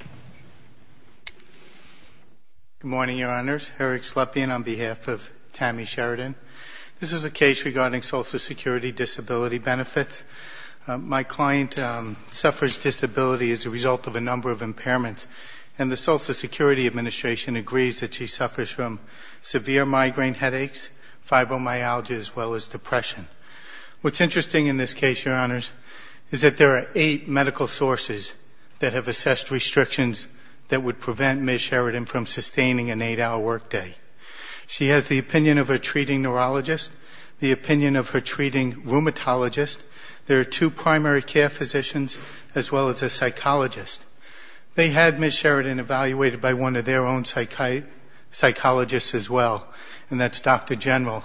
Good morning, Your Honors. Eric Slepian on behalf of Tammy Sheridan. This is a case regarding social security disability benefits. My client suffers disability as a result of a number of impairments, and the Social Security Administration agrees that she suffers from severe migraine headaches, fibromyalgia, as well as depression. What's interesting in this case, Your Honors, is that there are eight medical sources that have assessed restrictions that would prevent Ms. Sheridan from sustaining an eight-hour workday. She has the opinion of a treating neurologist, the opinion of her treating rheumatologist. There are two primary care physicians, as well as a psychologist. They had Ms. Sheridan evaluated by one of their own psychologists as well, and that's Dr. General.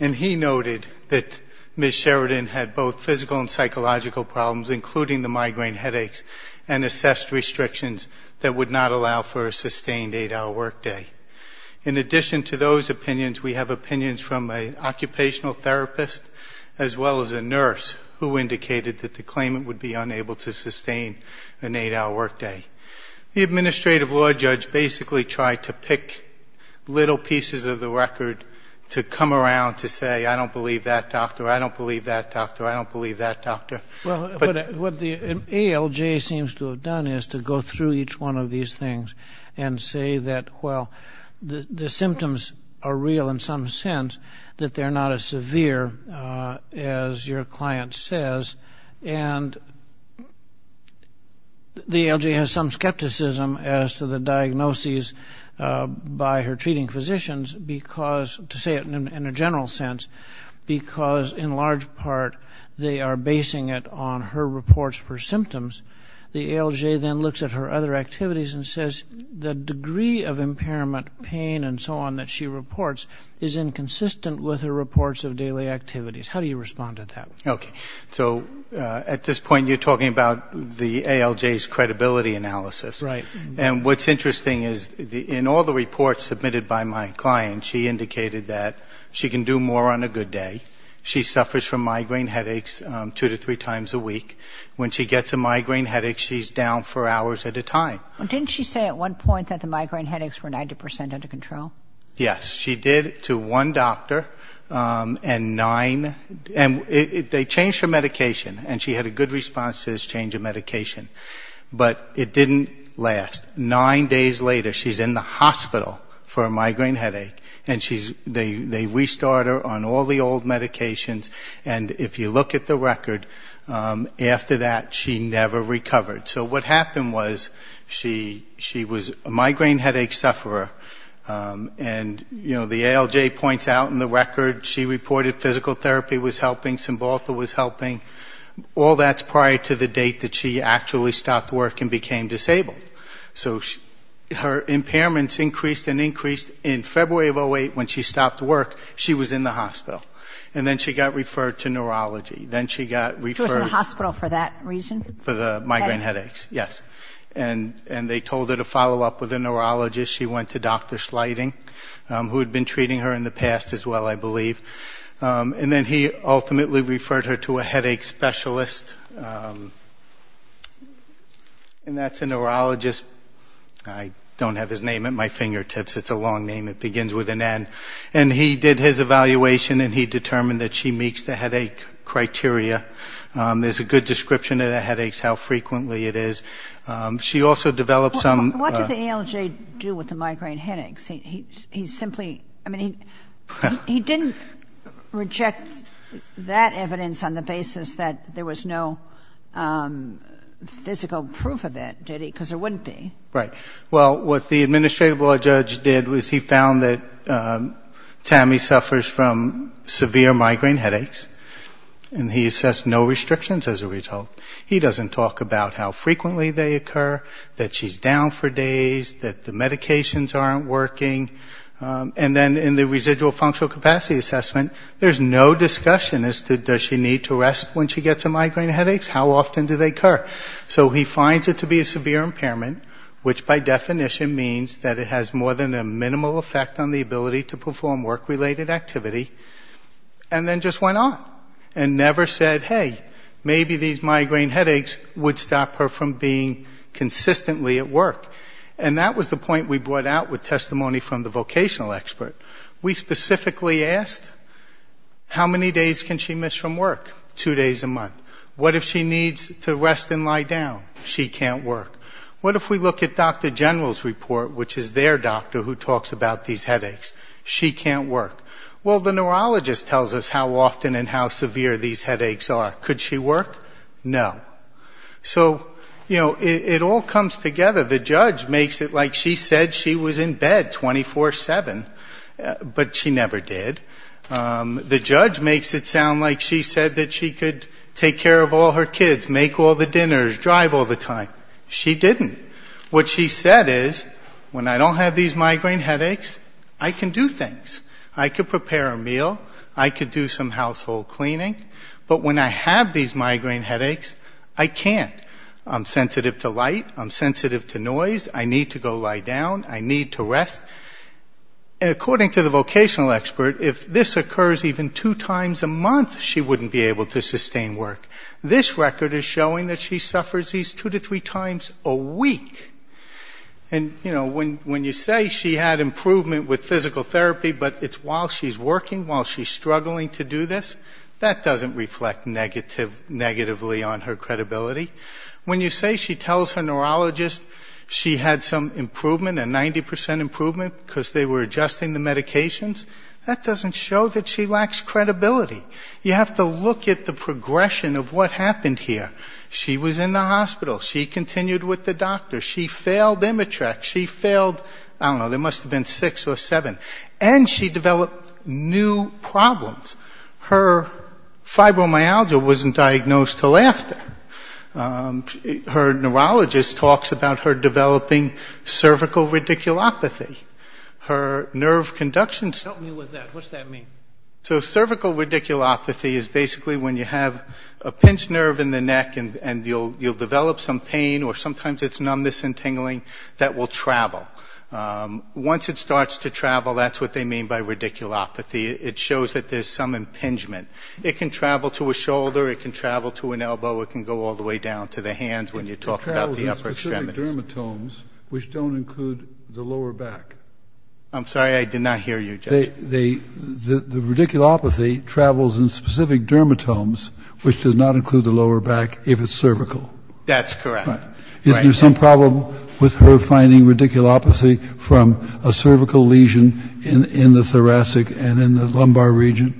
And he noted that Ms. Sheridan had both physical and psychological problems, including the migraine headaches, and assessed restrictions that would not allow for a sustained eight-hour workday. In addition to those opinions, we have opinions from an occupational therapist, as well as a nurse, who indicated that the claimant would be unable to sustain an eight-hour workday. The administrative law judge basically tried to pick little pieces of the record to come around to say, I don't believe that doctor, I don't believe that doctor, I don't believe that doctor. Well, what the ALJ seems to have done is to go through each one of these things and say that, well, the symptoms are real in some sense, that they're not as severe as your symptoms, and that there is some skepticism as to the diagnoses by her treating physicians, because, to say it in a general sense, because in large part they are basing it on her reports for symptoms. The ALJ then looks at her other activities and says the degree of impairment pain and so on that she reports is inconsistent with her reports of daily activities. How do you respond to that? Okay. So at this point you're talking about the ALJ's credibility analysis. Right. And what's interesting is in all the reports submitted by my client, she indicated that she can do more on a good day. She suffers from migraine headaches two to three times a week. When she gets a migraine headache, she's down for hours at a time. Didn't she say at one point that the migraine headaches were 90 percent under control? Yes. She did to one doctor and nine, and they changed her medication, and she had a good response to this change of medication, but it didn't last. Nine days later she's in the hospital for a migraine headache, and she's, they restart her on all the old medications, and if you look at the record, after that she never recovered. So what happened was she was a migraine headache sufferer, and, you know, the ALJ points out in the record she reported physical therapy was helping, Cymbalta was helping. All that's prior to the date that she actually stopped work and became disabled. So her impairments increased and increased. In February of 2008 when she stopped work, she was in the hospital, and then she got referred to neurology. Then she got referred She was in the hospital for that reason? For the migraine headaches, yes. And they told her to follow up with a neurologist. She went to Dr. Sliding, who had been treating her in the past as well, I believe. And then he ultimately referred her to a headache specialist, and that's a neurologist, I don't have his name at my fingertips, it's a long name, it begins with an N. And he did his evaluation and he determined that she meets the headache criteria. There's a good description of the headaches, how frequently it is. She also developed some What did the ALJ do with the migraine headaches? He simply, I mean, he didn't reject that evidence on the basis that there was no physical proof of it, did he? Because there wouldn't be. Right. Well, what the administrative law judge did was he found that Tammy suffers from severe migraine headaches, and he assessed no restrictions as a result. He doesn't talk about how frequently they occur, that she's down for days, that the medications aren't working. And then in the residual functional capacity assessment, there's no discussion as to does she need to rest when she gets a migraine headache? How often do they occur? So he finds it to be a severe impairment, which by definition means that it has more than a minimal effect on the ability to perform work-related activity, and then just went on and never said, hey, maybe these migraine headaches would stop her from being consistently at work. And that was the point we brought out with testimony from the vocational expert. We specifically asked how many days can she miss from work? Two days a month. What if she needs to rest and lie down? She can't work. What if we look at Dr. General's report, which is their doctor who talks about these headaches? She can't work. Well, the neurologist tells us how often and how severe these headaches are. Could she work? No. So, you know, it all comes together. The judge makes it like she said she was in bed 24-7, but she never did. The judge makes it sound like she said that she could take care of all her kids, make all the dinners, drive all the time. She didn't. What she said is, when I don't have these migraine headaches, I can do things. I can prepare a meal. I can do some household cleaning. But when I have these migraine headaches, I can't. I'm sensitive to light. I'm sensitive to noise. I need to go lie down. I need to rest. And according to the vocational expert, if this occurs even two times a month, she wouldn't be able to speak. And, you know, when you say she had improvement with physical therapy, but it's while she's working, while she's struggling to do this, that doesn't reflect negatively on her credibility. When you say she tells her neurologist she had some improvement, a 90% improvement because they were adjusting the medications, that doesn't show that she lacks credibility. You have to look at the progression of what happened here. She was in the hospital. She continued with the doctor. She failed Imitrex. She failed, I don't know, there must have been six or seven. And she developed new problems. Her fibromyalgia wasn't diagnosed till after. Her neurologist talks about her developing cervical radiculopathy. Her nerve conduction symptoms. So cervical radiculopathy is basically when you have a pinched nerve in the neck and you'll develop some pain or sometimes it's numbness and tingling that will travel. Once it starts to travel, that's what they mean by radiculopathy. It shows that there's some impingement. It can travel to a shoulder. It can travel to an elbow. It can go all the way down to the hands when you talk about the upper extremities. It travels in specific dermatomes, which don't include the lower back. I'm sorry, I did not hear you, Judge. The radiculopathy travels in specific dermatomes, which does not include the lower back if it's cervical. That's correct. Is there some problem with her finding radiculopathy from a cervical lesion in the thoracic and in the lumbar region?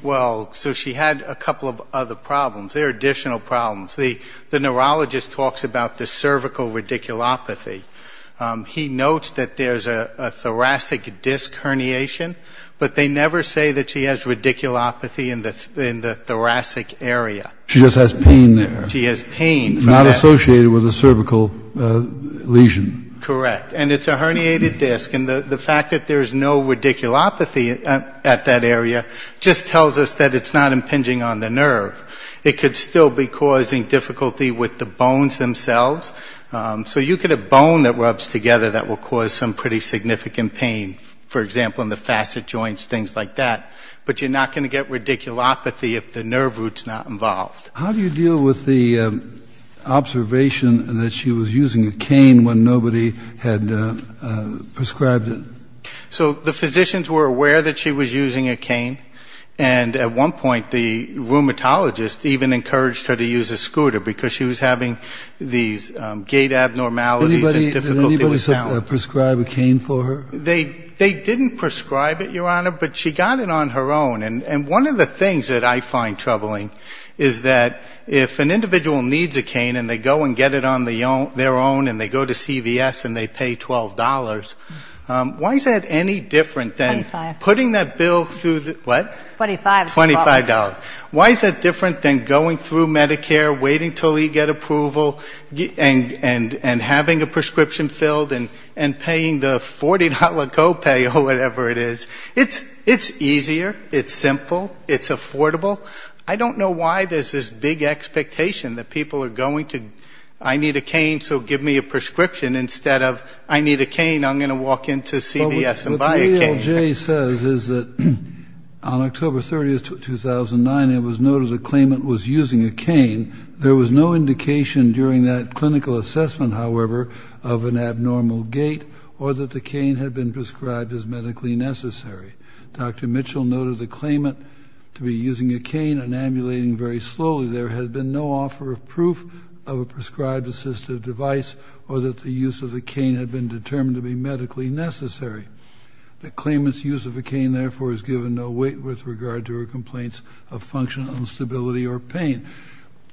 Well, so she had a couple of other problems. There are additional problems. The neurologist talks about the cervical radiculopathy. He notes that there's a thoracic disc herniation, but they never say that she has radiculopathy in the thoracic area. She just has pain there. Not associated with a cervical lesion. Correct. And it's a herniated disc. And the fact that there's no radiculopathy at that area just tells us that it's not impinging on the nerve. It could still be causing difficulty with the bones themselves. So you could have bone that rubs together that will cause some pretty significant pain, for example, in the facet joints, things like that. But you're not going to get radiculopathy if the nerve root's not involved. How do you deal with the observation that she was using a cane when nobody had prescribed it? So the physicians were aware that she was using a cane. And at one point, the rheumatologist even encouraged her to use a scooter because she was having these gait abnormalities. Did anybody prescribe a cane for her? They didn't prescribe it, Your Honor, but she got it on her own. And one of the things that I find troubling is that if an individual needs a cane and they go and get it on their own and they go to CVS and they pay $12, why is that any different than putting that bill through the what? $25. Why is that different than going through Medicare, waiting till you get approval, and having a prescription filled and paying the $40 co-pay or whatever it is? It's easier. It's simple. It's affordable. I don't know why there's this big expectation that people are going to, I need a cane, so give me a prescription instead of I need a cane, I'm going to walk into CVS and buy a cane. What the AOJ says is that on October 30th, 2009, it was noted a claimant was using a cane. There was no indication during that clinical assessment, however, of an abnormal gait or that the cane had been prescribed as medically necessary. Dr. Mitchell noted the claimant to be using a cane and ambulating very slowly. There had been no offer of proof of a prescribed assistive device or that the use of the cane had been determined to be medically necessary. The claimant's use of a cane, therefore, is given no weight with regard to her complaints of functional instability or pain.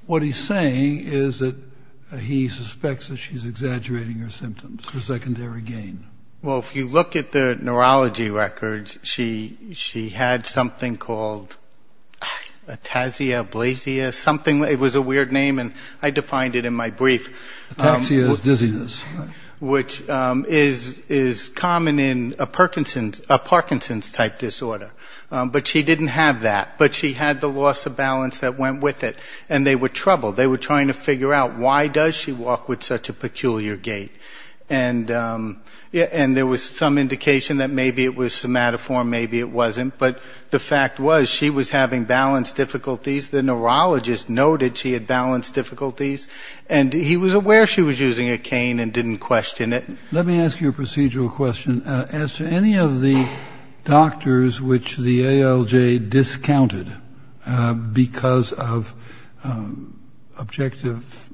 What he's saying is that he suspects that she's exaggerating her symptoms for secondary gain. Well, if you look at the neurology records, she had something called ataxia, blazia, something. It was a weird name, and I defined it in my brief. Ataxia is dizziness. Which is common in a Parkinson's-type disorder. But she didn't have that, but she had the loss of balance that went with it, and they were troubled. They were trying to figure out why does she walk with such a peculiar gait. And there was some indication that maybe it was somatoform, maybe it wasn't, but the fact was she was having balance difficulties. The neurologist noted she had balance difficulties, and he was aware she was using a cane, and didn't question it. Let me ask you a procedural question. As to any of the doctors which the ALJ discounted because of objective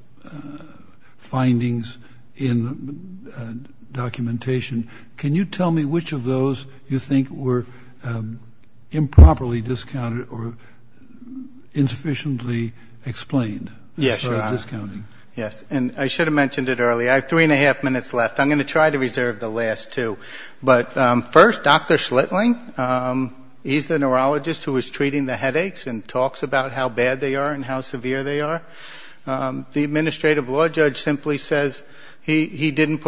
findings in documentation, can you tell me which of those you think were improperly discounted or insufficiently explained? Yes, I should have mentioned it earlier. I have three and a half minutes left. I'm going to try to reserve the last two. But first, Dr. Schlittling, he's the neurologist who was treating the headaches and talks about how bad they are and how severe they are. The administrative law judge simply says he didn't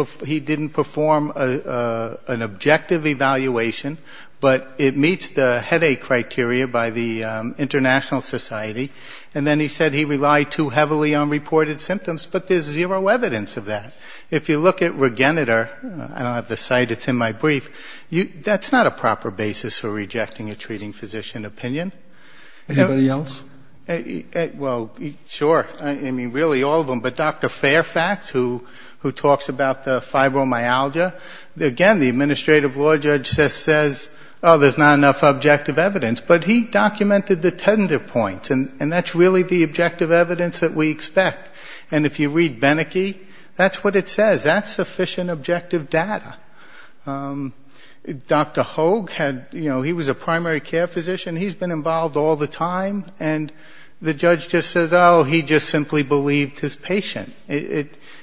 perform an objective evaluation, but it meets the headache criteria by the International Society. And then he said he relied too heavily on reported symptoms, but there's zero evidence of that. If you look at Regeneter, I don't have the site, it's in my brief, that's not a proper basis for rejecting a treating physician opinion. Anybody else? Well, sure. I mean, really, all of them. But Dr. Fairfax, who talks about the fibromyalgia, again, the administrative law judge just says, oh, there's not enough objective evidence. But he documented the tender points, and that's really the objective evidence that we expect. And if you read Beneke, that's what it says. That's sufficient objective data. Dr. Hogue, he was a primary care physician, he's been involved all the time, and the judge just says, oh, he just simply believed his patient.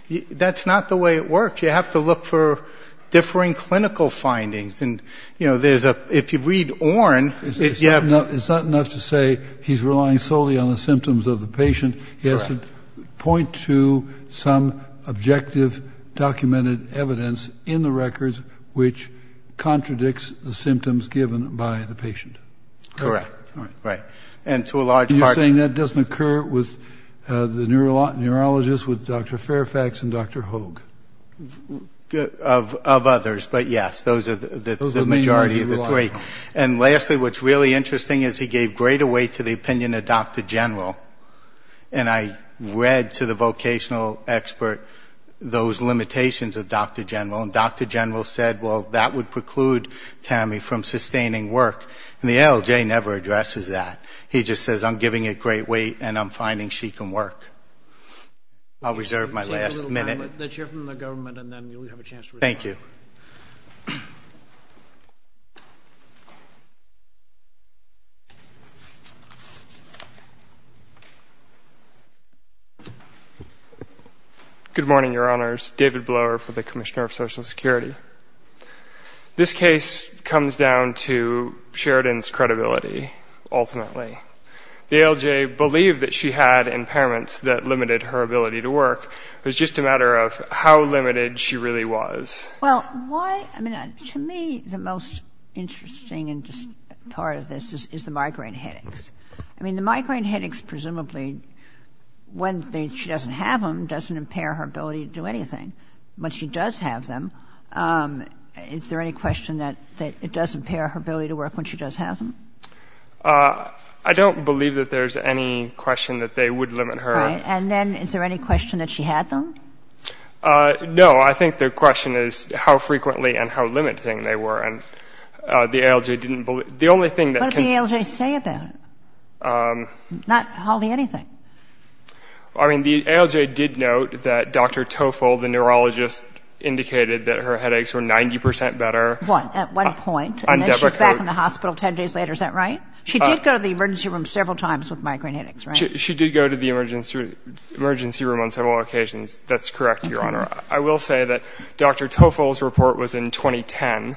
That's not the way it works. You have to look for differing clinical findings. And, you know, if you read Orne, you have... It's not enough to say he's relying solely on the symptoms of the patient. He has to point to some objective documented evidence in the records which contradicts the symptoms given by the patient. Correct. And you're saying that doesn't occur with the neurologists, with Dr. Fairfax and Dr. Hogue? Of others, but yes, those are the majority of the three. And lastly, what's really interesting is he gave greater weight to the opinion of Dr. General. And I read to the vocational expert those limitations of Dr. General, and Dr. General said, well, that would preclude Tammy from sustaining work. And the ALJ never addresses that. He just says, I'm giving it great weight, and I'm finding she can work. I'll reserve my last minute. Good morning, Your Honors. David Blower for the Commissioner of Social Security. This case comes down to Sheridan's credibility, ultimately. The ALJ believed that she had impairments that limited her ability to work. It was just a matter of how limited she really was. Well, to me, the most interesting part of this is the migraine headaches. I mean, the migraine headaches, presumably, when she doesn't have them, doesn't impair her ability to do anything. When she does have them, is there any question that it does impair her ability to work when she does have them? I don't believe that there's any question that they would limit her. Right. And then is there any question that she had them? No. I think the question is how frequently and how limiting they were. What did the ALJ say about it? Not hardly anything. I mean, the ALJ did note that Dr. Toffol, the neurologist, indicated that her headaches were 90 percent better. At what point? And then she was back in the hospital 10 days later. Is that right? She did go to the emergency room several times with migraine headaches, right? She did go to the emergency room on several occasions. That's correct, Your Honor. I will say that Dr. Toffol's report was in 2010,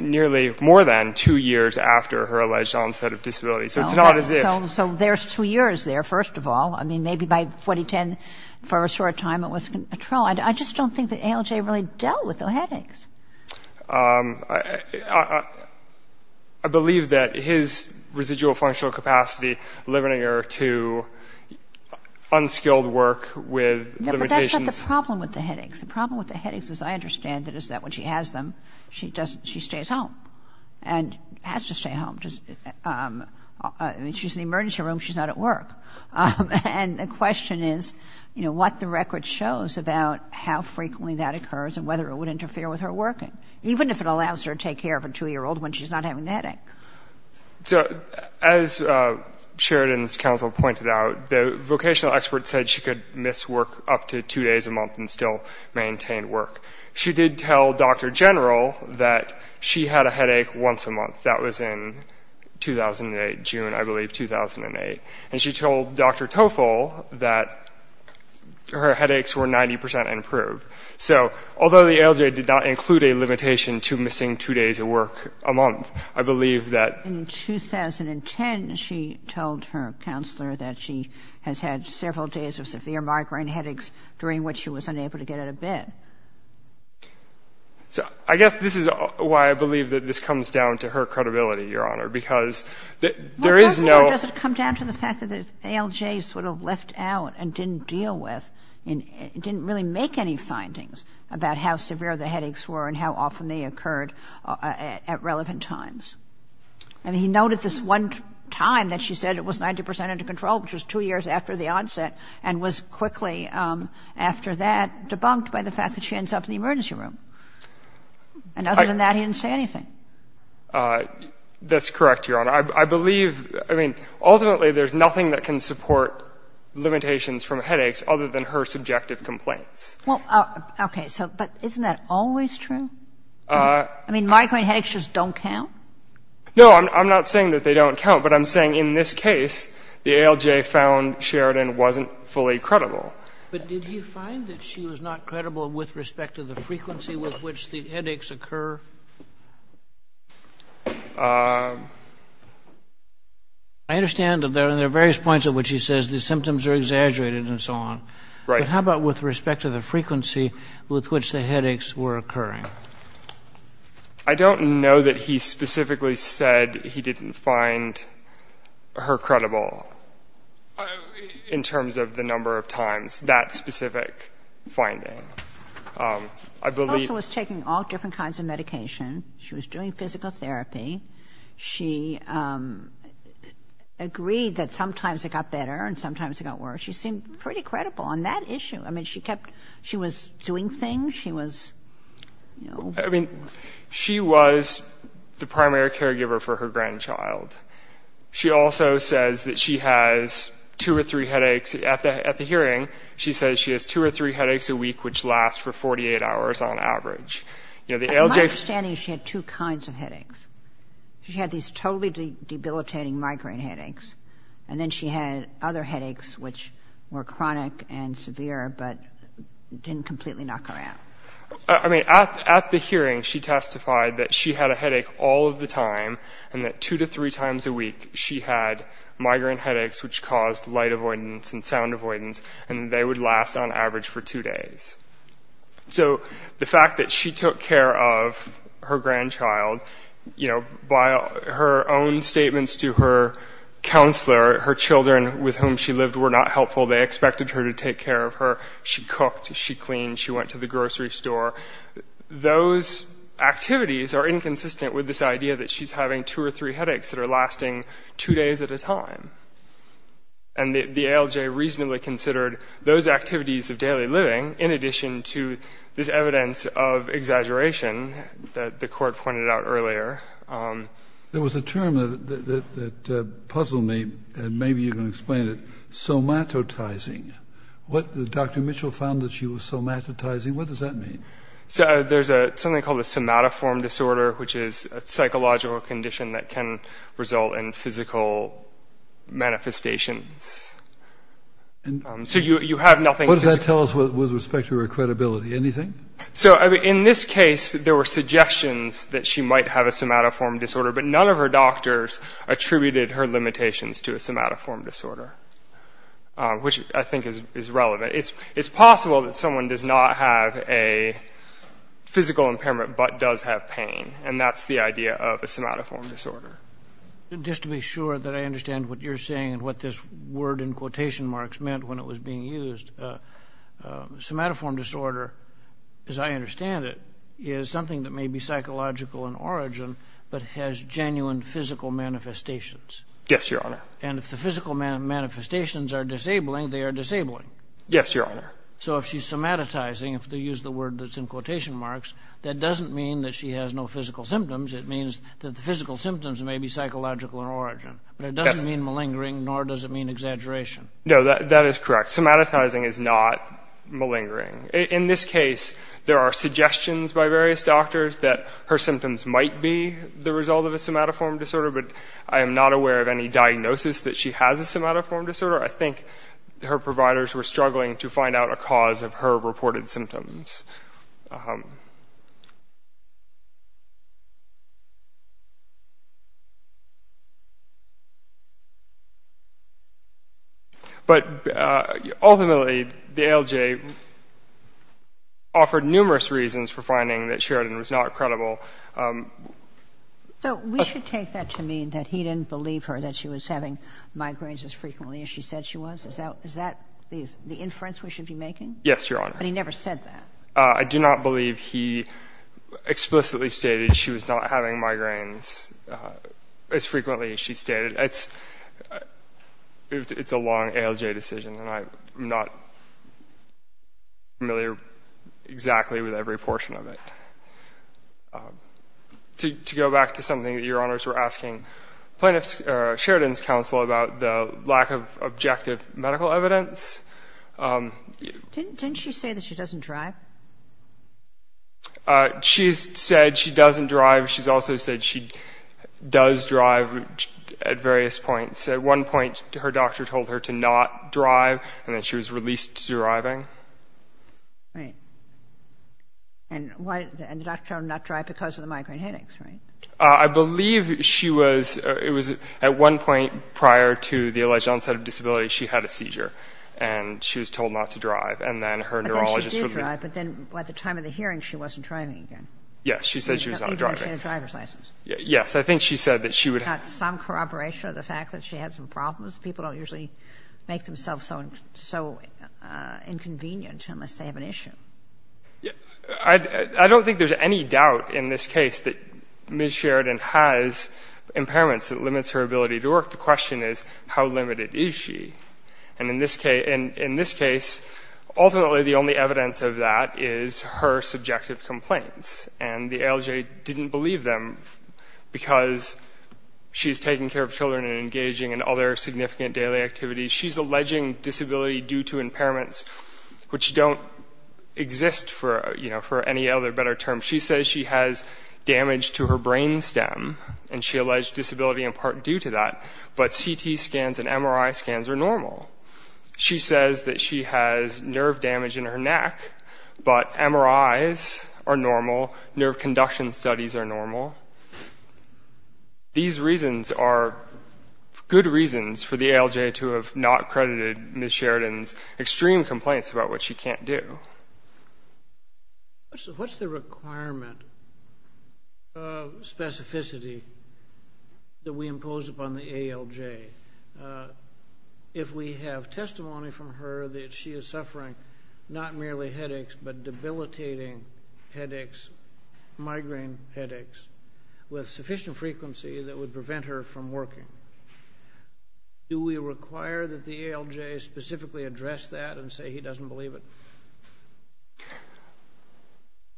nearly more than two years after her alleged onset of disability. So it's not as if... So there's two years there, first of all. I mean, maybe by 2010, for a short time, it was controlled. I just don't think the ALJ really dealt with the headaches. I believe that his residual functional capacity limiting her to unskilled work with limitations... No, but that's not the problem with the headaches. The problem with the headaches, as I understand it, is that when she has them, she stays home and has to stay home. I mean, she's in the emergency room. She's not at work. And the question is, you know, what the record shows about how frequently that occurs and whether it would interfere with her working, even if it allows her to take care of a 2-year-old when she's not having the headache. So as Sheridan's counsel pointed out, the vocational expert said she could miss work up to two days a month and still maintain work. She did tell Dr. General that she had a headache once a month. That was in 2008, June, I believe, 2008. And she told Dr. Toffol that her headaches were 90% improved. So although the ALJ did not include a limitation to missing two days of work a month, I believe that... In 2010, she told her counselor that she has had several days of severe migraine headaches during which she was unable to get out of bed. So I guess this is why I believe that this comes down to her credibility, Your Honor, because there is no... Well, partly it doesn't come down to the fact that the ALJ sort of left out and didn't deal with and didn't really make any findings about how severe the headaches were and how often they occurred at relevant times. I mean, he noted this one time that she said it was 90% under control, which was two years after the onset, and was quickly, after that, debunked by the fact that she ends up in the emergency room. And other than that, he didn't say anything. That's correct, Your Honor. I believe, I mean, ultimately, there's nothing that can support limitations from headaches other than her subjective complaints. Well, okay, so, but isn't that always true? I mean, migraine headaches just don't count? No, I'm not saying that they don't count, but I'm saying in this case, the ALJ found Sheridan wasn't fully credible. But did he find that she was not credible with respect to the frequency with which the headaches occur? I understand that there are various points at which he says the symptoms are exaggerated and so on. But how about with respect to the frequency with which the headaches were occurring? I don't know that he specifically said he didn't find her credible in terms of the number of times, that specific finding. She also was taking all different kinds of medication. She was doing physical therapy. She agreed that sometimes it got better and sometimes it got worse. She seemed pretty credible on that issue. I mean, she kept, she was doing things. I mean, she was the primary caregiver for her grandchild. She also says that she has two or three headaches at the hearing. She says she has two or three headaches a week, which last for 48 hours on average. She had these totally debilitating migraine headaches. And then she had other headaches, which were chronic and severe, but didn't completely knock her out. I mean, at the hearing, she testified that she had a headache all of the time and that two to three times a week she had migraine headaches, which caused light avoidance and sound avoidance, and they would last on average for two days. So the fact that she took care of her grandchild, by her own statements to her counselor, her children with whom she lived were not helpful. They expected her to take care of her. She cooked, she cleaned, she went to the grocery store. Those activities are inconsistent with this idea that she's having two or three headaches that are lasting two days at a time. And the ALJ reasonably considered those activities of daily living in addition to this evidence of exaggeration that the court pointed out earlier. There was a term that puzzled me, and maybe you can explain it. Somatotizing. Dr. Mitchell found that she was somatotizing. What does that mean? There's something called a somatoform disorder, which is a psychological condition that can result in physical manifestations. What does that tell us with respect to her credibility? Anything? In this case, there were suggestions that she might have a somatoform disorder, but none of her doctors attributed her limitations to a somatoform disorder, which I think is relevant. It's possible that someone does not have a physical impairment but does have pain, and that's the idea of a somatoform disorder. Just to be sure that I understand what you're saying and what this word in quotation marks meant when it was being used, somatoform disorder, as I understand it, is something that may be psychological in origin but has genuine physical manifestations. Yes, Your Honor. So if she's somatotizing, if they use the word that's in quotation marks, that doesn't mean that she has no physical symptoms. It means that the physical symptoms may be psychological in origin, but it doesn't mean malingering, nor does it mean exaggeration. No, that is correct. Somatotizing is not malingering. In this case, there are suggestions by various doctors that her symptoms might be the result of a somatoform disorder, but I am not aware of any diagnosis that she has a somatoform disorder. I think her providers were struggling to find out a cause of her reported symptoms. But ultimately, the ALJ offered numerous reasons for finding that Sheridan was not credible. So we should take that to mean that he didn't believe her, that she was having migraines as frequently as she said she was? Is that the inference we should be making? Yes, Your Honor. But he never said that. I do not believe he explicitly stated she was not having migraines as frequently as she stated. It's a long ALJ decision, and I'm not familiar exactly with every portion of it. To go back to something that Your Honors were asking, plaintiff Sheridan's counsel about the lack of objective medical evidence. Didn't she say that she doesn't drive? She said she doesn't drive. She's also said she does drive at various points. At one point, her doctor told her to not drive, and then she was released to driving. Right. And the doctor told her not to drive because of the migraine headaches, right? I believe she was, it was at one point prior to the alleged onset of disability, she had a seizure, and she was told not to drive, and then her neurologist... I thought she did drive, but then at the time of the hearing, she wasn't driving again. Yes, I think she said that she would... She got some corroboration of the fact that she had some problems. People don't usually make themselves so inconvenient unless they have an issue. I don't think there's any doubt in this case that Ms. Sheridan has impairments that limits her ability to work. The question is, how limited is she? And in this case, ultimately the only evidence of that is her subjective complaints, and the ALJ didn't believe them because she's taking care of children and engaging in other significant daily activities. She's alleging disability due to impairments, which don't exist for any other better term. She says she has damage to her brain stem, and she alleged disability in part due to that, but CT scans and MRI scans are normal. She says that she has nerve damage in her neck, but MRIs are normal, nerve conduction studies are normal. These reasons are good reasons for the ALJ to have not credited Ms. Sheridan's extreme complaints about what she can't do. What's the requirement of specificity that we impose upon the ALJ? If we have testimony from her that she is suffering not merely headaches, but debilitating headaches, migraine headaches, with sufficient frequency that would prevent her from working, do we require that the ALJ specifically address that and say he doesn't believe it?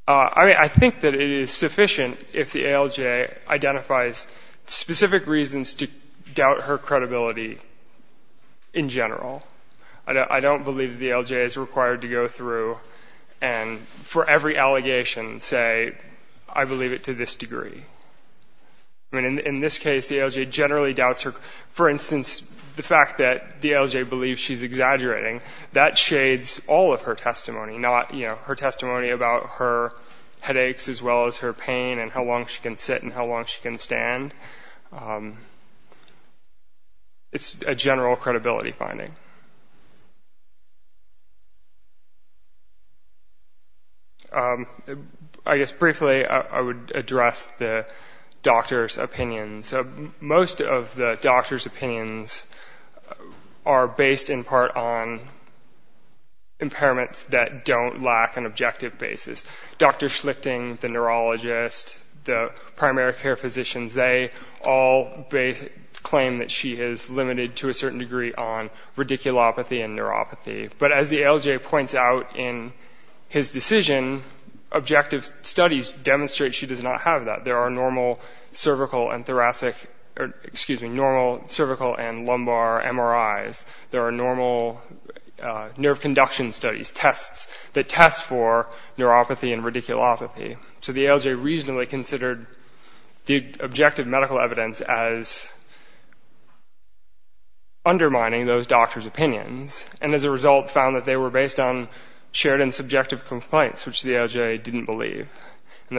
I think that it is sufficient if the ALJ identifies specific reasons to doubt her credibility in general. I don't believe the ALJ is required to go through and for every allegation say I believe it to this degree. In this case the ALJ generally doubts her. For instance, the fact that the ALJ believes she's exaggerating, that shades all of her testimony, not her testimony about her headaches as well as her pain, and how long she can sit and how long she can stand. It's a general credibility finding. I guess briefly I would address the doctor's opinion. Most of the doctor's opinions are based in part on impairments that don't lack an objective basis. Dr. Schlichting, the neurologist, the primary care physicians, they all claim that she is limited to a certain degree on radiculopathy and neuropathy. But as the ALJ points out in his decision, objective studies demonstrate she does not have that. There are normal cervical and lumbar MRIs. There are normal nerve conduction studies, tests, that test for neuropathy and radiculopathy. So the ALJ reasonably considered the objective medical evidence as undermining those doctors' opinions, and as a result found that they were based on Sheridan's subjective complaints, which the ALJ didn't believe. And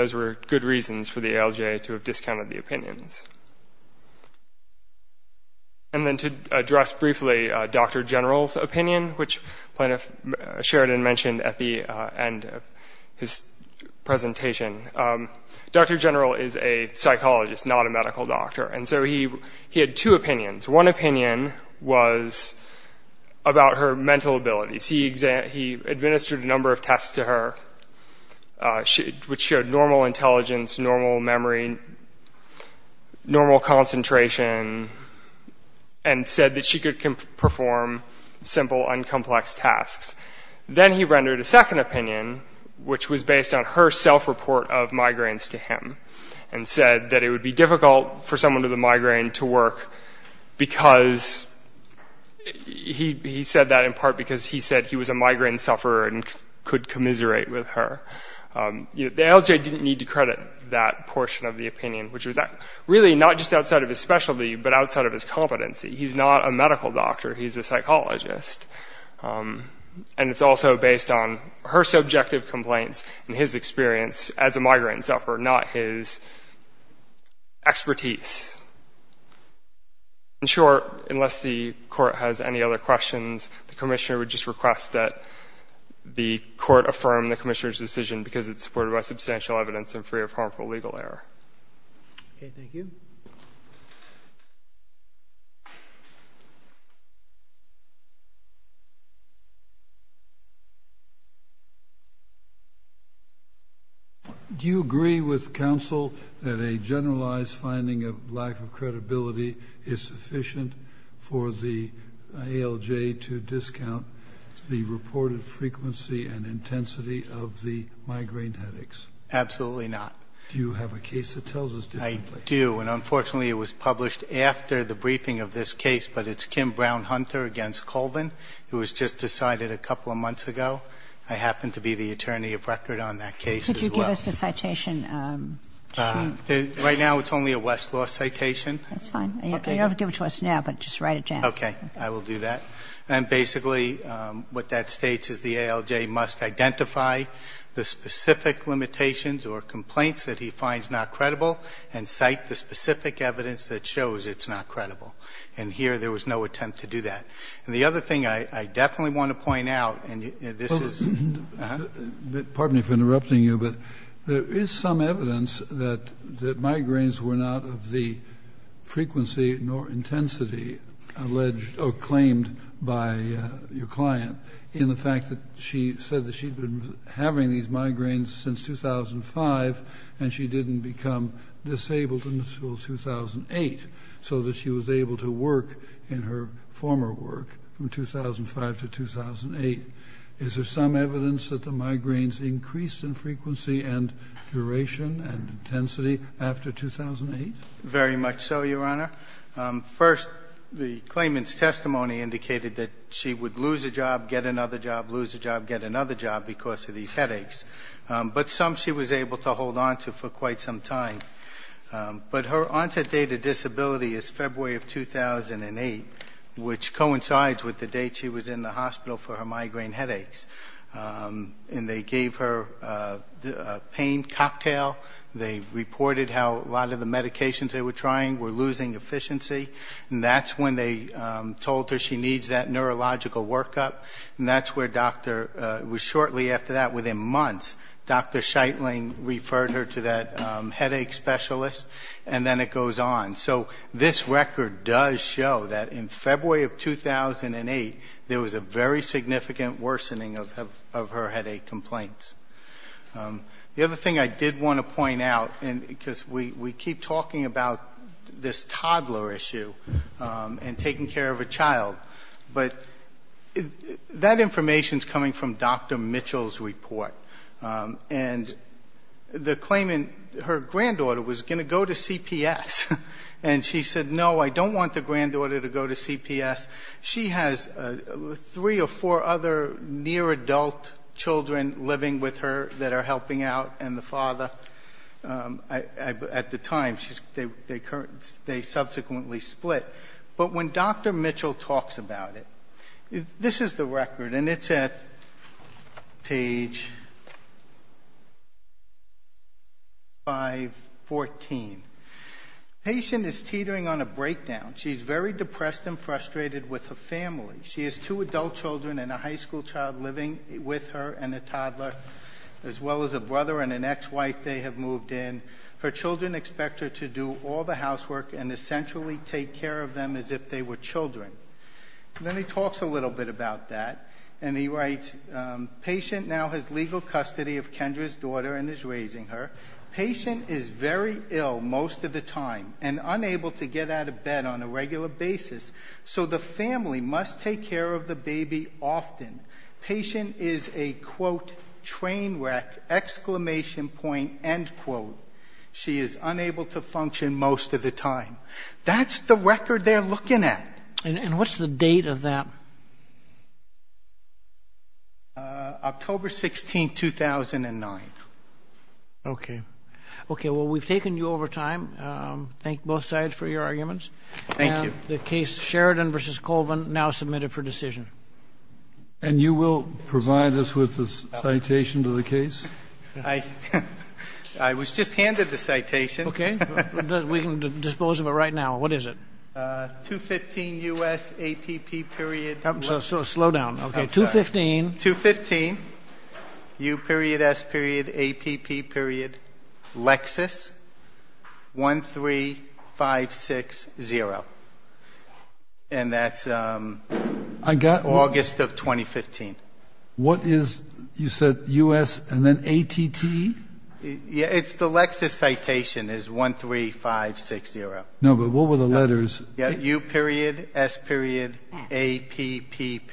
then to address briefly Dr. General's opinion, which Sheridan mentioned at the end of his presentation. Dr. General is a psychologist, not a medical doctor. And so he had two opinions. One opinion was about her mental abilities. He administered a number of tests to her, which showed normal intelligence, normal memory, normal concentration, and said that she could perform simple, uncomplex tasks. Then he rendered a second opinion, which was based on her self-report of migraines to him, and said that it would be difficult for someone with a migraine to work because he said that in part because he said he was a migraine sufferer and could commiserate with her. The ALJ didn't need to credit that portion of the opinion, which was really not just outside of his specialty, but outside of his competency. He's not a medical doctor. He's a psychologist. And it's also based on her subjective complaints and his experience as a migraine sufferer, not his expertise. In short, unless the court has any other questions, the commissioner would just request that the court affirm the commissioner's decision because it's supported by substantial evidence and free of harmful legal error. Okay, thank you. Do you agree with counsel that a generalized finding of lack of credibility is sufficient for the ALJ to discount the reported frequency and intensity of the migraine headaches? Absolutely not. Do you have a case that tells us this? I do. And unfortunately, it was published after the briefing of this case, but it's Kim Brown-Hunter against Colvin. It was just decided a couple of months ago. I happen to be the attorney of record on that case as well. Could you give us the citation? Right now it's only a Westlaw citation. That's fine. You don't have to give it to us now, but just write it down. Okay. I will do that. And basically what that states is the ALJ must identify the specific limitations or complaints that he finds not credible and cite the specific evidence that shows it's not credible. And here there was no attempt to do that. And the other thing I definitely want to point out, and this is ---- Pardon me for interrupting you, but there is some evidence that migraines were not of the frequency nor intensity alleged or claimed by your client in the fact that she said that she had been having these migraines since 2005 and she didn't become disabled until 2008, so that she was able to work in her former work from 2005 to 2008. Is there some evidence that the migraines increased in frequency and duration and intensity after 2008? Very much so, Your Honor. First, the claimant's testimony indicated that she would lose a job, get another job, lose a job, get another job because of these headaches. But some she was able to hold on to for quite some time. But her onset date of disability is February of 2008, which coincides with the date she was in the hospital for her migraine headaches. And they gave her a pain cocktail. They reported how a lot of the medications they were trying were losing efficiency. And that's when they told her she needs that neurological workup. And that's where Dr. It was shortly after that, within months, Dr. Scheitling referred her to that headache specialist. And then it goes on. So this record does show that in February of 2008, there was a very significant worsening of her headache complaints. The other thing I did want to point out, because we keep talking about this toddler issue and taking care of a child, but that information is coming from Dr. Mitchell's report. And the claimant, her granddaughter was going to go to CPS. And she said, no, I don't want the granddaughter to go to CPS. She has three or four other near adult children living with her that are helping out, and the father. At the time, they subsequently split. But when Dr. Mitchell talks about it, this is the record. And it's at page 514. The patient is teetering on a breakdown. She's very depressed and frustrated with her family. She has two adult children and a high school child living with her and a toddler, as well as a brother and an ex-wife they have moved in. Her children expect her to do all the housework and essentially take care of them as if they were children. And then he talks a little bit about that. And he writes, patient now has legal custody of Kendra's daughter and is raising her. Patient is very ill most of the time and unable to get out of bed on a regular basis. So the family must take care of the baby often. Patient is a, quote, train wreck, exclamation point, end quote. She is unable to function most of the time. That's the record they're looking at. And what's the date of that? October 16, 2009. Okay. Okay, well, we've taken you over time. Thank both sides for your arguments. Thank you. The case Sheridan v. Colvin now submitted for decision. And you will provide us with a citation to the case? I was just handed the citation. Okay. We can dispose of it right now. What is it? 215 U.S. APP period. Slow down. Okay, 215. 215 U.S. APP period. Lexis 13560. And that's August of 2015. What is, you said U.S. and then ATT? Yeah, it's the Lexis citation is 13560. No, but what were the letters? U.S. APP period. APP.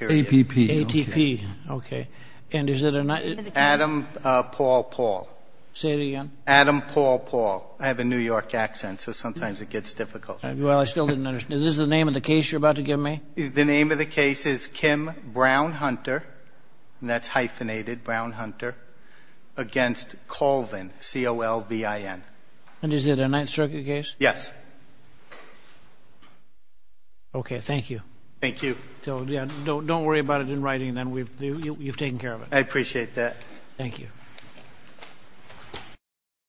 ATP. Okay. Adam Paul Paul. Say it again. Adam Paul Paul. I have a New York accent, so sometimes it gets difficult. Well, I still didn't understand. Is this the name of the case you're about to give me? The name of the case is Kim Brown Hunter, and that's hyphenated Brown Hunter, against Colvin, C-O-L-V-I-N. And is it a Ninth Circuit case? Yes. Okay, thank you. Thank you. So, yeah, don't worry about it in writing. You've taken care of it. I appreciate that. Thank you.